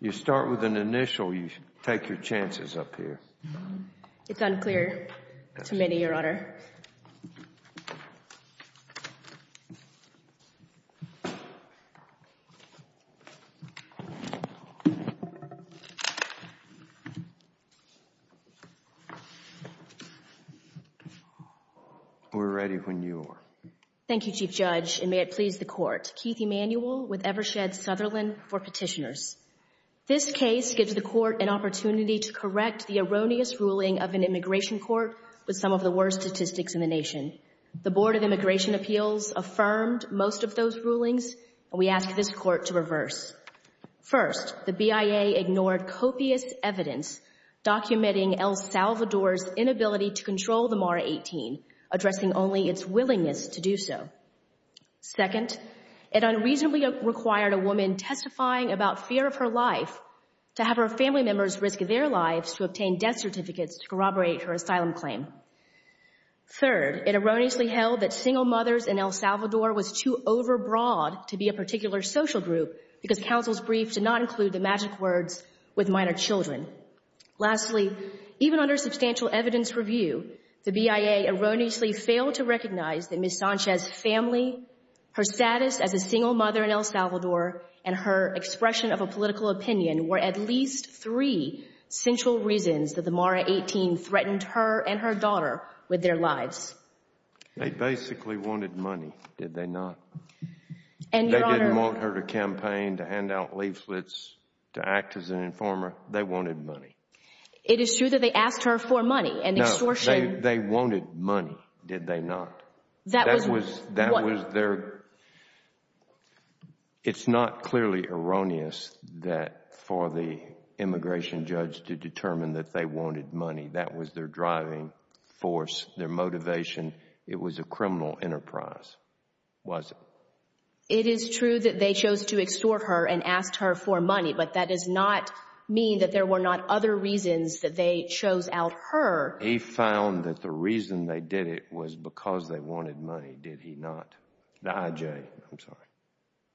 You start with an initial, you take your chances up here. It's unclear to many, Your Honor. We're ready when you are. Thank you, Chief Judge, and may it please the Court. Keith Emanuel with Evershed Sutherland for Petitioners. This case gives the Court an opportunity to correct the erroneous ruling of an immigration court with some of the worst statistics in the nation. The Board of Immigration Appeals affirmed most of those rulings, and we ask this Court to reverse. First, the BIA ignored copious evidence documenting El Salvador's inability to control the MARA-18, addressing only its willingness to do so. Second, it unreasonably required a woman testifying about fear of her life to have her family members risk their lives to obtain death certificates to corroborate her asylum claim. Third, it erroneously held that single mothers in El Salvador were too overbroad to be a particular social group because counsel's brief did not include the magic words, with minor children. Lastly, even under substantial evidence review, the BIA erroneously failed to recognize that Ms. Sanchez's family, her status as a single mother in El Salvador, and her expression of a political opinion were at least three central reasons that the MARA-18 threatened her and her daughter with their lives. They basically wanted money, did they not? They didn't want her to campaign, to hand out leaflets, to act as an informer. They wanted money. It is true that they asked her for money and extortion. No, they wanted money, did they not? It's not clearly erroneous for the immigration judge to determine that they wanted money. That was their driving force, their motivation. It was a criminal enterprise, was it? It is true that they chose to extort her and asked her for money, but that does not mean that there were not other reasons that they chose out her. They found that the reason they did it was because they wanted money, did he not? The IJ, I'm sorry.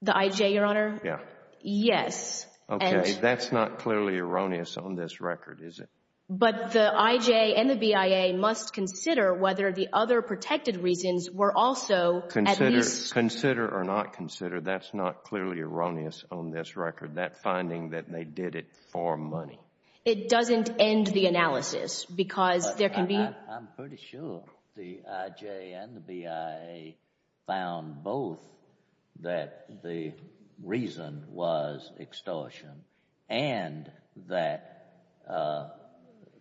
The IJ, Your Honor? Yeah. Yes. Okay, that's not clearly erroneous on this record, is it? But the IJ and the BIA must consider whether the other protected reasons were also at least… Consider or not consider, that's not clearly erroneous on this record, that finding that they did it for money. It doesn't end the analysis because there can be… I'm pretty sure the IJ and the BIA found both that the reason was extortion and that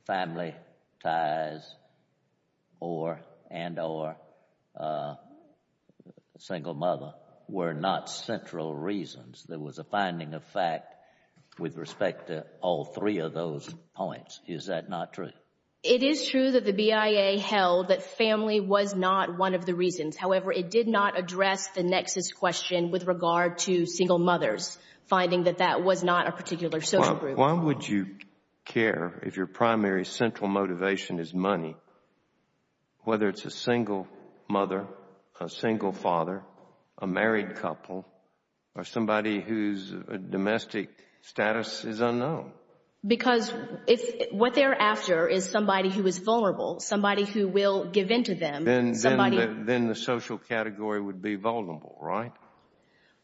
family ties and or single mother were not central reasons. There was a finding of fact with respect to all three of those points. Is that not true? It is true that the BIA held that family was not one of the reasons. However, it did not address the nexus question with regard to single mothers, finding that that was not a particular social group. Why would you care if your primary central motivation is money, whether it's a single mother, a single father, a married couple, or somebody whose domestic status is unknown? Because what they're after is somebody who is vulnerable, somebody who will give in to them. Then the social category would be vulnerable, right?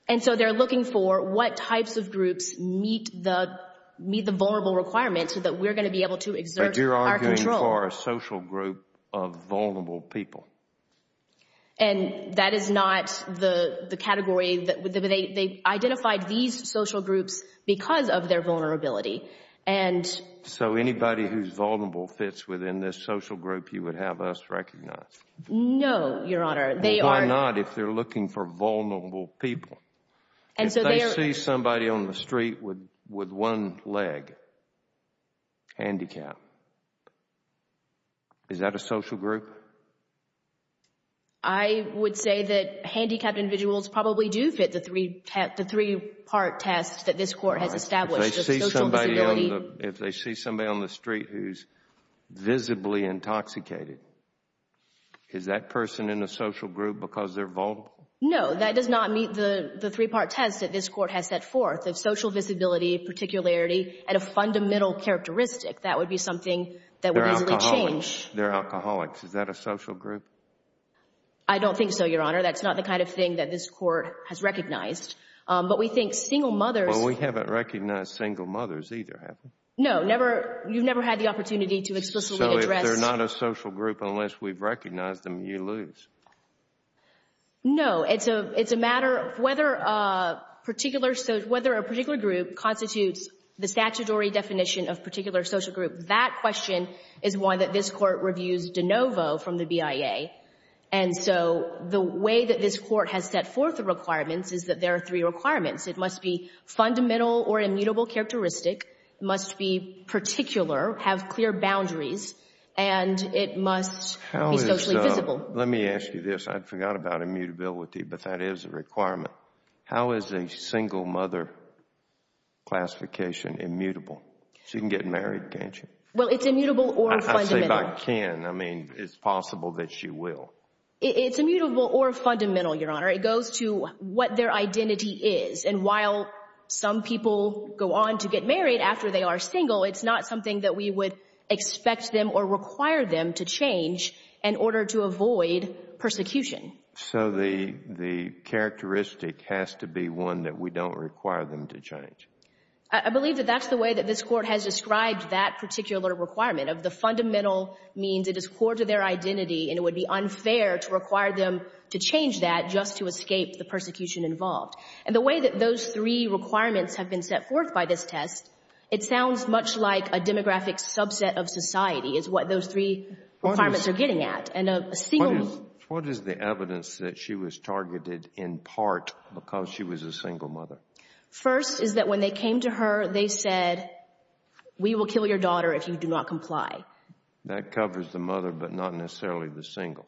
And so they're looking for what types of groups meet the vulnerable requirements so that we're going to be able to exert our control. But you're arguing for a social group of vulnerable people. And that is not the category. They identified these social groups because of their vulnerability. So anybody who's vulnerable fits within this social group you would have us recognize? No, Your Honor. Why not if they're looking for vulnerable people? If they see somebody on the street with one leg, handicapped, is that a social group? I would say that handicapped individuals probably do fit the three part test that this Court has established. If they see somebody on the street who's visibly intoxicated, is that person in a social group because they're vulnerable? No, that does not meet the three part test that this Court has set forth. If social visibility, particularity, and a fundamental characteristic, that would be something that would easily change. They're alcoholics. Is that a social group? I don't think so, Your Honor. That's not the kind of thing that this Court has recognized. But we think single mothers Well, we haven't recognized single mothers either, have we? No, you've never had the opportunity to explicitly address So if they're not a social group unless we've recognized them, you lose? No, it's a matter of whether a particular group constitutes the statutory definition of particular social group. That question is why this Court reviews DeNovo from the BIA. And so the way that this Court has set forth the requirements is that there are three requirements. It must be fundamental or immutable characteristic. It must be particular, have clear boundaries, and it must be socially visible. Let me ask you this. I forgot about immutability, but that is a requirement. How is a single mother classification immutable? She can get married, can't she? Well, it's immutable or fundamental. I mean, it's possible that she will. It's immutable or fundamental, Your Honor. It goes to what their identity is. And while some people go on to get married after they are single, it's not something that we would expect them or require them to change in order to avoid persecution. So the characteristic has to be one that we don't require them to change. I believe that that's the way that this Court has described that particular requirement, of the fundamental means it is core to their identity, and it would be unfair to require them to change that just to escape the persecution involved. And the way that those three requirements have been set forth by this test, it sounds much like a demographic subset of society is what those three requirements are getting at. And a single mother — What is the evidence that she was targeted in part because she was a single mother? First is that when they came to her, they said, we will kill your daughter if you do not comply. That covers the mother, but not necessarily the single.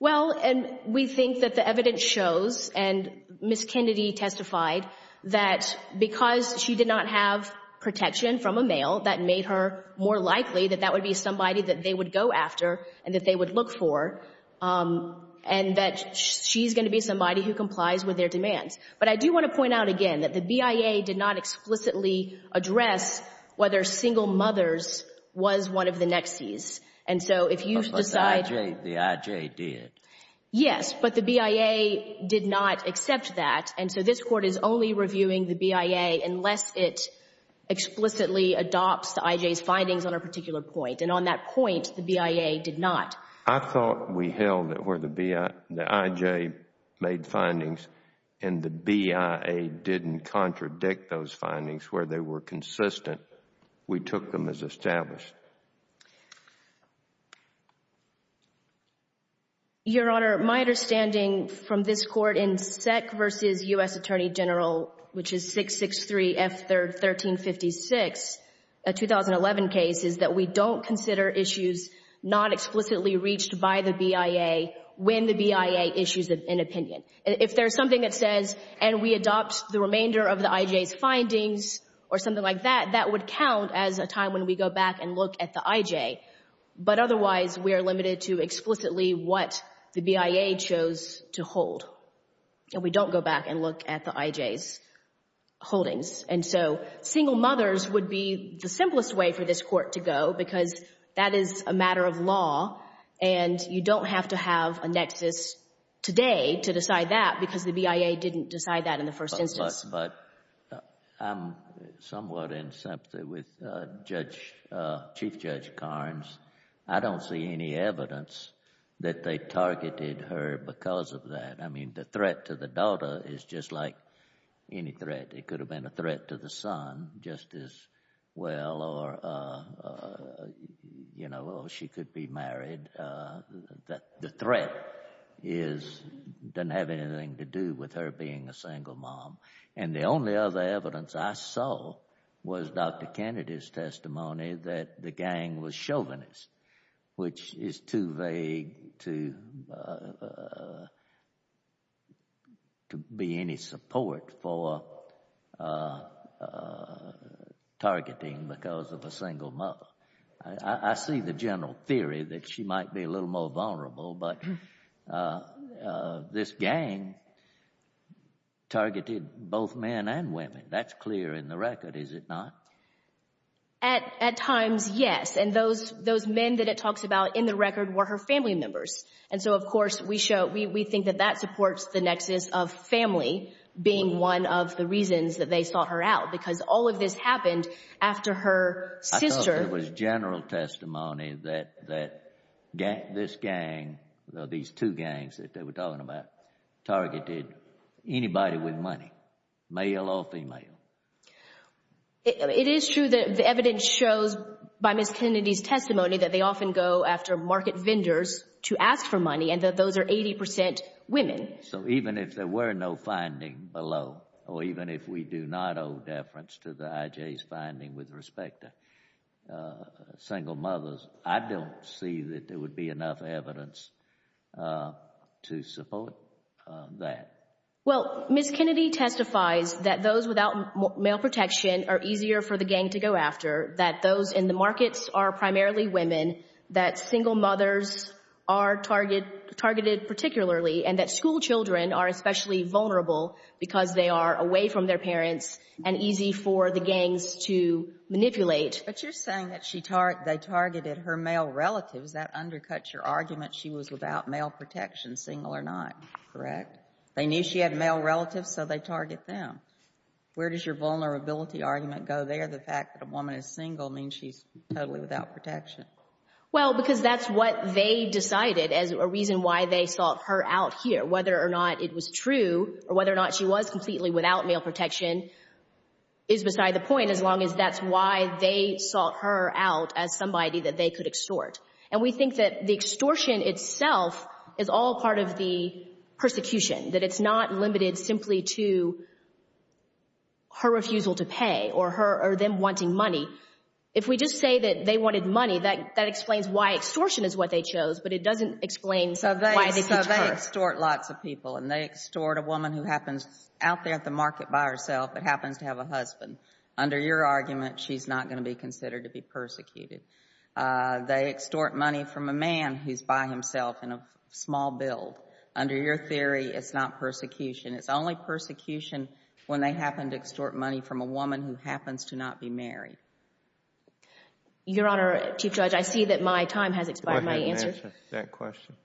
Well, and we think that the evidence shows, and Ms. Kennedy testified, that because she did not have protection from a male, that made her more likely that that would be somebody that they would go after and that they would look for, and that she's going to be somebody who complies with their demands. But I do want to point out again that the BIA did not explicitly address whether single mothers was one of the Nexes. And so if you decide — But the IJ did. Yes, but the BIA did not accept that, and so this Court is only reviewing the BIA unless it explicitly adopts the IJ's findings on a particular point. And on that point, the BIA did not. I thought we held it where the IJ made findings, and the BIA didn't contradict those findings where they were consistent. We took them as established. Your Honor, my understanding from this Court in Seck v. U.S. Attorney General, which is 663 F. 1356, a 2011 case, is that we don't consider issues not explicitly reached by the BIA when the BIA issues an opinion. If there's something that says, and we adopt the remainder of the IJ's findings or something like that, that would count as a time when we go back and look at the IJ. But otherwise, we are limited to explicitly what the BIA chose to hold. And we don't go back and look at the IJ's holdings. And so single mothers would be the simplest way for this Court to go because that is a matter of law, and you don't have to have a nexus today to decide that because the BIA didn't decide that in the first instance. But I'm somewhat in sympathy with Chief Judge Carnes. I don't see any evidence that they targeted her because of that. I mean, the threat to the daughter is just like any threat. It could have been a threat to the son just as well, or she could be married. The threat doesn't have anything to do with her being a single mom. And the only other evidence I saw was Dr. Kennedy's testimony that the gang was chauvinist, which is too vague to be any support for targeting because of a single mother. I see the general theory that she might be a little more vulnerable, but this gang targeted both men and women. That's clear in the record, is it not? At times, yes. And those men that it talks about in the record were her family members. And so, of course, we think that that supports the nexus of family being one of the reasons that they sought her out because all of this happened after her sister— I thought there was general testimony that this gang, these two gangs that they were talking about, targeted anybody with money, male or female. It is true that the evidence shows by Ms. Kennedy's testimony that they often go after market vendors to ask for money and that those are 80 percent women. So even if there were no finding below, or even if we do not owe deference to the IJ's finding with respect to single mothers, I don't see that there would be enough evidence to support that. Well, Ms. Kennedy testifies that those without male protection are easier for the gang to go after, that those in the markets are primarily women, that single mothers are targeted particularly, and that school children are especially vulnerable because they are away from their parents and easy for the gangs to manipulate. But you're saying that they targeted her male relatives. That undercuts your argument she was without male protection, single or not, correct? They knew she had male relatives, so they target them. Where does your vulnerability argument go there? The fact that a woman is single means she's totally without protection. Well, because that's what they decided as a reason why they sought her out here. Whether or not it was true or whether or not she was completely without male protection is beside the point as long as that's why they sought her out as somebody that they could extort. And we think that the extortion itself is all part of the persecution, that it's not limited simply to her refusal to pay or them wanting money. If we just say that they wanted money, that explains why extortion is what they chose, but it doesn't explain why they seeked her. So they extort lots of people, and they extort a woman who happens out there at the market by herself but happens to have a husband. They extort money from a man who's by himself in a small build. Under your theory, it's not persecution. It's only persecution when they happen to extort money from a woman who happens to not be married. Your Honor, Chief Judge, I see that my time has expired. Go ahead and answer that question.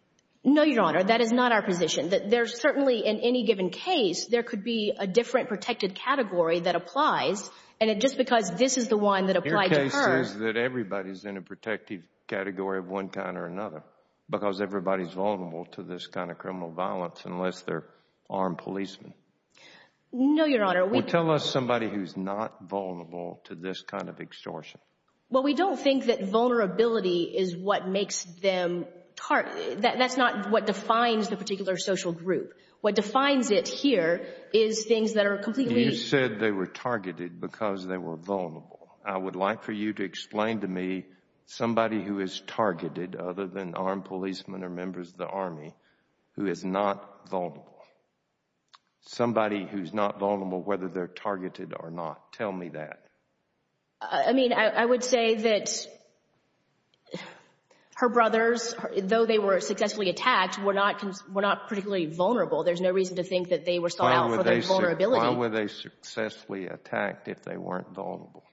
No, Your Honor, that is not our position. There certainly, in any given case, there could be a different protected category that applies, and just because this is the one that applied to her— Everybody's in a protected category of one kind or another because everybody's vulnerable to this kind of criminal violence unless they're armed policemen. No, Your Honor, we— Well, tell us somebody who's not vulnerable to this kind of extortion. Well, we don't think that vulnerability is what makes them— that's not what defines the particular social group. What defines it here is things that are completely— You said they were targeted because they were vulnerable. I would like for you to explain to me somebody who is targeted other than armed policemen or members of the Army who is not vulnerable. Somebody who's not vulnerable whether they're targeted or not. Tell me that. I mean, I would say that her brothers, though they were successfully attacked, were not particularly vulnerable. There's no reason to think that they were sought out for their vulnerability. Why were they successfully attacked if they weren't vulnerable?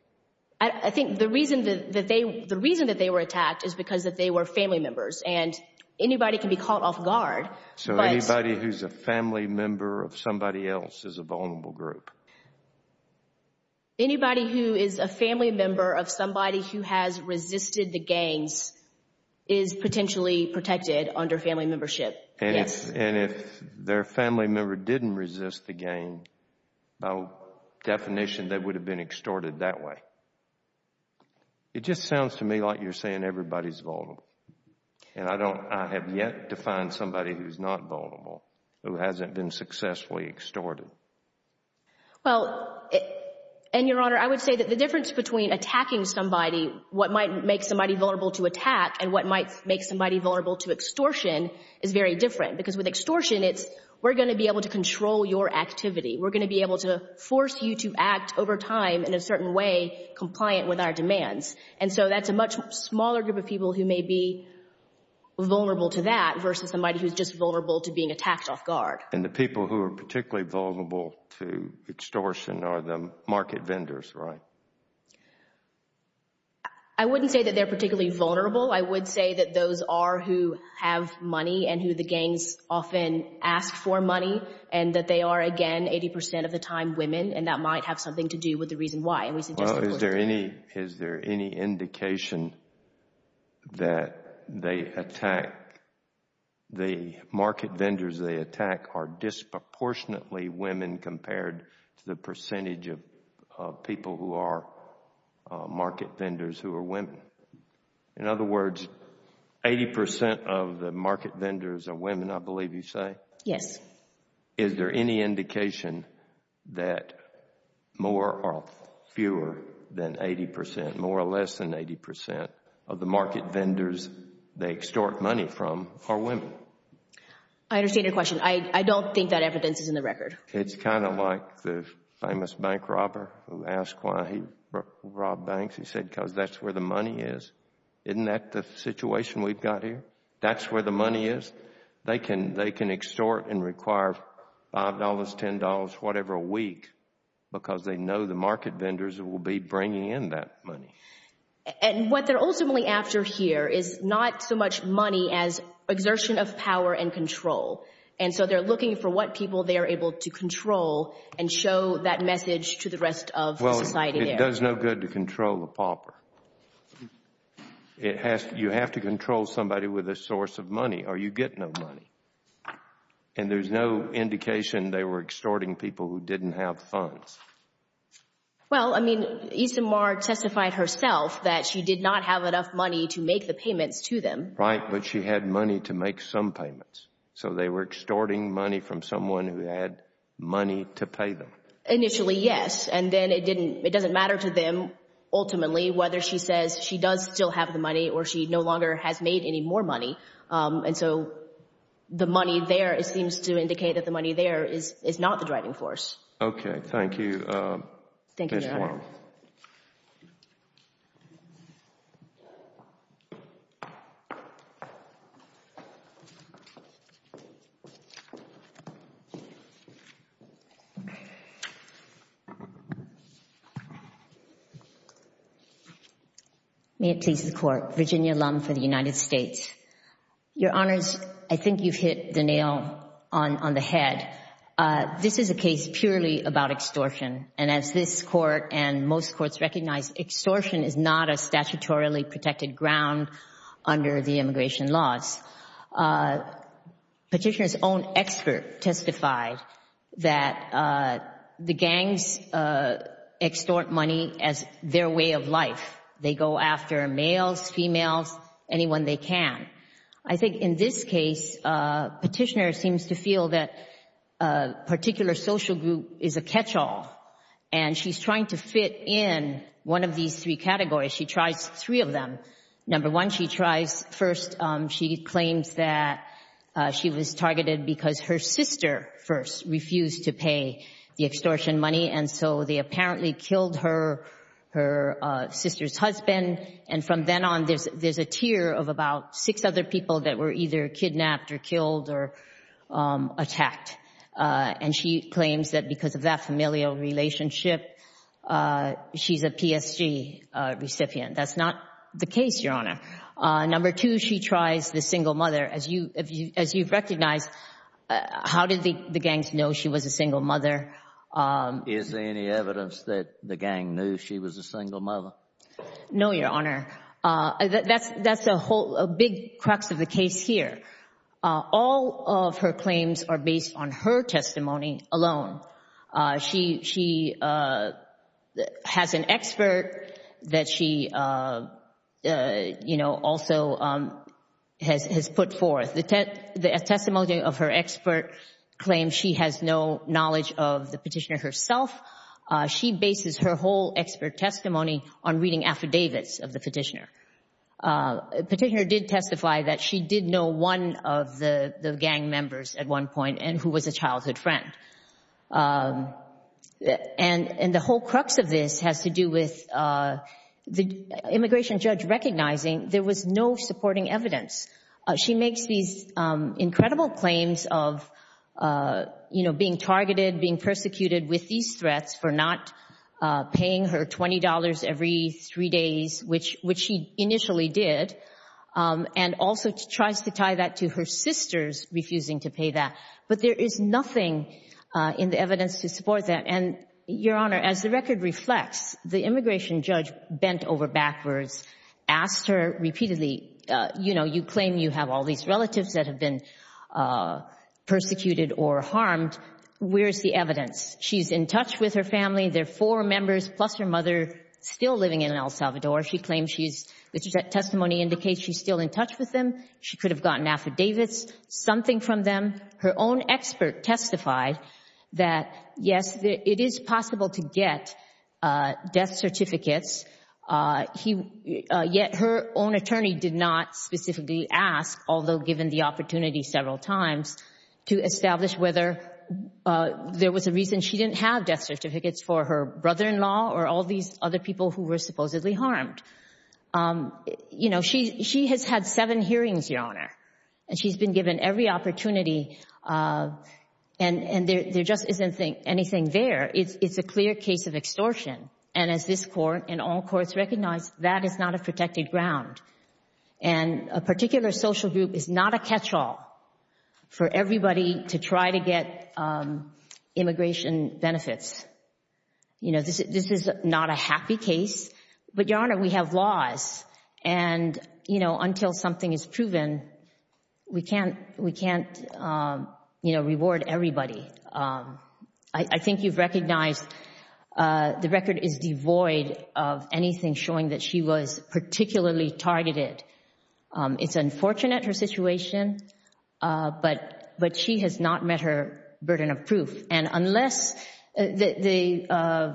I think the reason that they were attacked is because they were family members, and anybody can be caught off guard, but— So anybody who's a family member of somebody else is a vulnerable group? Anybody who is a family member of somebody who has resisted the gangs is potentially protected under family membership, yes. And if their family member didn't resist the gang, by definition they would have been extorted that way. It just sounds to me like you're saying everybody's vulnerable. And I don't—I have yet to find somebody who's not vulnerable who hasn't been successfully extorted. Well, and, Your Honor, I would say that the difference between attacking somebody, what might make somebody vulnerable to attack, and what might make somebody vulnerable to extortion is very different. Because with extortion, it's we're going to be able to control your activity. We're going to be able to force you to act over time in a certain way compliant with our demands. And so that's a much smaller group of people who may be vulnerable to that versus somebody who's just vulnerable to being attacked off guard. And the people who are particularly vulnerable to extortion are the market vendors, right? I wouldn't say that they're particularly vulnerable. I would say that those are who have money and who the gangs often ask for money and that they are, again, 80 percent of the time women. And that might have something to do with the reason why. Well, is there any indication that they attack— the market vendors they attack are disproportionately women compared to the percentage of people who are market vendors who are women? In other words, 80 percent of the market vendors are women, I believe you say? Yes. Is there any indication that more or fewer than 80 percent, more or less than 80 percent of the market vendors they extort money from are women? I understand your question. I don't think that evidence is in the record. It's kind of like the famous bank robber who asked why he robbed banks. He said because that's where the money is. Isn't that the situation we've got here? That's where the money is? They can extort and require $5, $10, whatever a week because they know the market vendors will be bringing in that money. And what they're ultimately after here is not so much money as exertion of power and control. And so they're looking for what people they are able to control and show that message to the rest of society there. Well, it does no good to control a pauper. You have to control somebody with a source of money or you get no money. And there's no indication they were extorting people who didn't have funds. Well, I mean, Issam Marr testified herself that she did not have enough money to make the payments to them. Right, but she had money to make some payments. So they were extorting money from someone who had money to pay them? Initially, yes. And then it doesn't matter to them, ultimately, whether she says she does still have the money or she no longer has made any more money. And so the money there, it seems to indicate that the money there is not the driving force. Okay. Thank you, Ms. Warren. Thank you, Your Honor. May it please the Court. Virginia Lum for the United States. Your Honors, I think you've hit the nail on the head. This is a case purely about extortion. And as this Court and most courts recognize, extortion is not a statutorily protected ground under the immigration laws. Petitioner's own expert testified that the gangs extort money as their way of life. They go after males, females, anyone they can. I think in this case, Petitioner seems to feel that a particular social group is a catch-all, and she's trying to fit in one of these three categories. She tries three of them. Number one, she tries first she claims that she was targeted because her sister first refused to pay the extortion money, and so they apparently killed her sister's husband. And from then on, there's a tier of about six other people that were either kidnapped or killed or attacked. And she claims that because of that familial relationship, she's a PSG recipient. That's not the case, Your Honor. Number two, she tries the single mother. As you've recognized, how did the gangs know she was a single mother? Is there any evidence that the gang knew she was a single mother? No, Your Honor. That's a big crux of the case here. All of her claims are based on her testimony alone. She has an expert that she also has put forth. The testimony of her expert claims she has no knowledge of the petitioner herself. She bases her whole expert testimony on reading affidavits of the petitioner. Petitioner did testify that she did know one of the gang members at one point and who was a childhood friend. And the whole crux of this has to do with the immigration judge recognizing there was no supporting evidence. She makes these incredible claims of being targeted, being persecuted with these threats for not paying her $20 every three days, which she initially did, and also tries to tie that to her sisters refusing to pay that. But there is nothing in the evidence to support that. And, Your Honor, as the record reflects, the immigration judge bent over backwards, asked her repeatedly, you know, you claim you have all these relatives that have been persecuted or harmed. Where's the evidence? She's in touch with her family. There are four members, plus her mother, still living in El Salvador. She claims the testimony indicates she's still in touch with them. She could have gotten affidavits, something from them. Her own expert testified that, yes, it is possible to get death certificates. Yet her own attorney did not specifically ask, although given the opportunity several times, to establish whether there was a reason she didn't have death certificates for her brother-in-law or all these other people who were supposedly harmed. You know, she has had seven hearings, Your Honor, and she's been given every opportunity, and there just isn't anything there. It's a clear case of extortion. And as this court and all courts recognize, that is not a protected ground. And a particular social group is not a catch-all for everybody to try to get immigration benefits. You know, this is not a happy case. But, Your Honor, we have laws, and, you know, until something is proven, we can't reward everybody. I think you've recognized the record is devoid of anything showing that she was particularly targeted. It's unfortunate, her situation, but she has not met her burden of proof. And unless the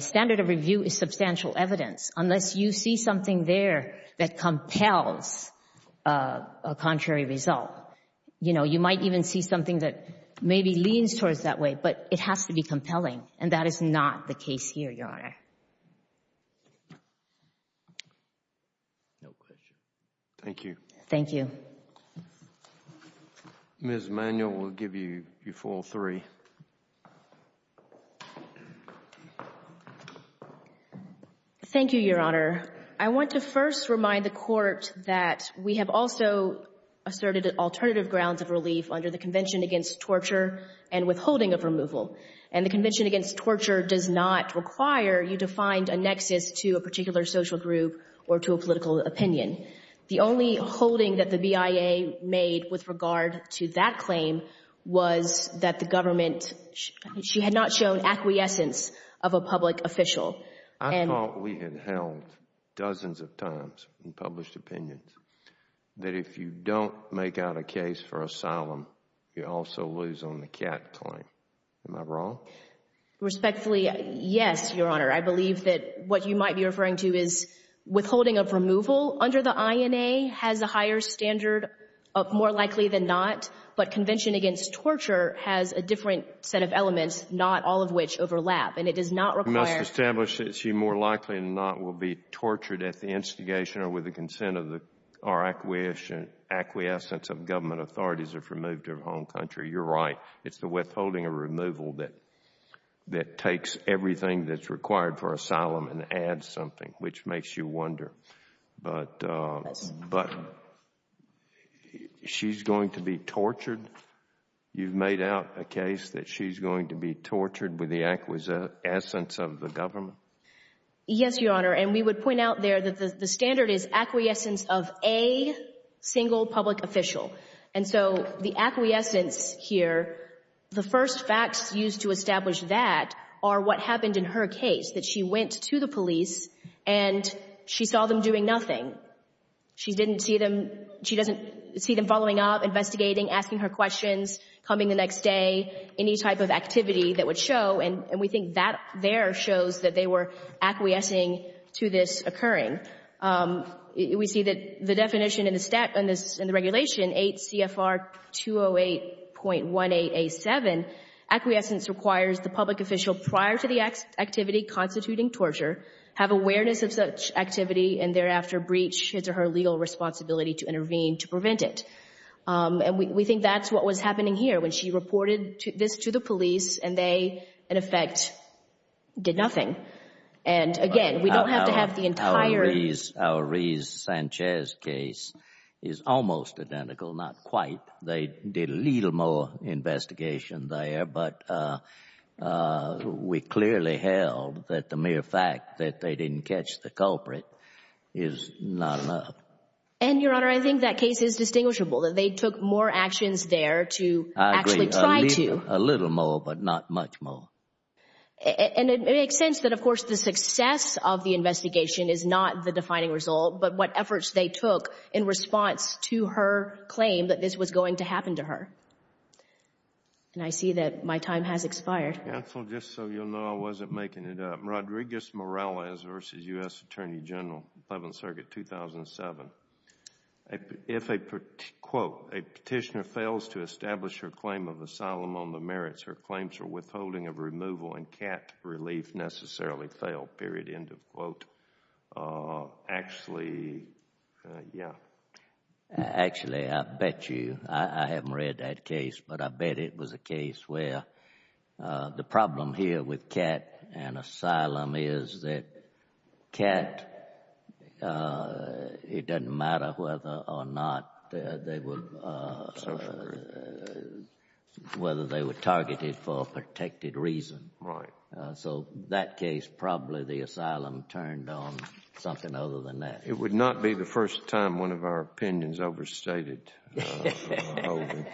standard of review is substantial evidence, unless you see something there that compels a contrary result, you know, you might even see something that maybe leans towards that way, but it has to be compelling, and that is not the case here, Your Honor. No question. Thank you. Thank you. Ms. Manuel, we'll give you your full three. Thank you, Your Honor. I want to first remind the Court that we have also asserted alternative grounds of relief under the Convention Against Torture and Withholding of Removal. And the Convention Against Torture does not require you to find a nexus to a particular social group or to a political opinion. The only holding that the BIA made with regard to that claim was that the government, she had not shown acquiescence of a public official. I thought we had held, dozens of times in published opinions, that if you don't make out a case for asylum, you also lose on the CAT claim. Am I wrong? Respectfully, yes, Your Honor. I believe that what you might be referring to is withholding of removal under the INA has a higher standard, more likely than not, but Convention Against Torture has a different set of elements, not all of which overlap, and it does not require You must establish that she more likely than not will be tortured at the instigation or with the consent or acquiescence of government authorities if removed from her home country. You're right. It's the withholding of removal that takes everything that's required for asylum and adds something, which makes you wonder. But she's going to be tortured? You've made out a case that she's going to be tortured with the acquiescence of the government? Yes, Your Honor. And we would point out there that the standard is acquiescence of a single public official. And so the acquiescence here, the first facts used to establish that are what happened in her case, that she went to the police and she saw them doing nothing. She didn't see them following up, investigating, asking her questions, coming the next day, any type of activity that would show, and we think that there shows that they were acquiescing to this occurring. We see that the definition in the regulation, 8 CFR 208.18A7, acquiescence requires the public official, prior to the activity constituting torture, have awareness of such activity and thereafter breach his or her legal responsibility to intervene to prevent it. And we think that's what was happening here. When she reported this to the police and they, in effect, did nothing. And, again, we don't have to have the entire- Our Rees-Sanchez case is almost identical, not quite. They did a little more investigation there, but we clearly held that the mere fact that they didn't catch the culprit is not enough. And, Your Honor, I think that case is distinguishable, that they took more actions there to actually try to- I agree, a little more, but not much more. And it makes sense that, of course, the success of the investigation is not the defining result, but what efforts they took in response to her claim that this was going to happen to her. And I see that my time has expired. Counsel, just so you'll know, I wasn't making it up. Rodriguez Morales v. U.S. Attorney General, 11th Circuit, 2007. If, quote, a petitioner fails to establish her claim of asylum on the merits, her claims for withholding of removal and cat relief necessarily fail, period, end of quote. Actually, yeah. Actually, I bet you, I haven't read that case, but I bet it was a case where the problem here with cat and asylum is that cat, it doesn't matter whether or not they were- Certainly. Whether they were targeted for a protected reason. Right. So that case, probably the asylum turned on something other than that. It would not be the first time one of our opinions overstated withholding.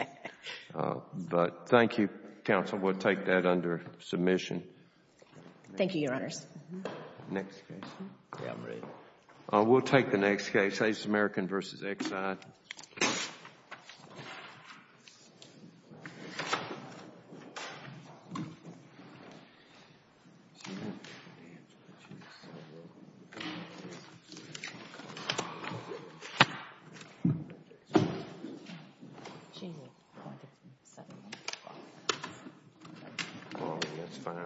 But thank you, counsel. We'll take that under submission. Thank you, Your Honors. Next case. Yeah, I'm ready. We'll take the next case, Ace American v. Exide. Oh, that's fine.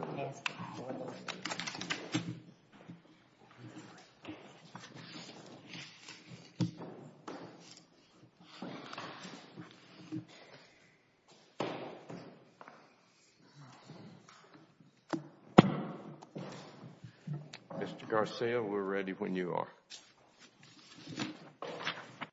Mr. Garcia, we're ready when you are.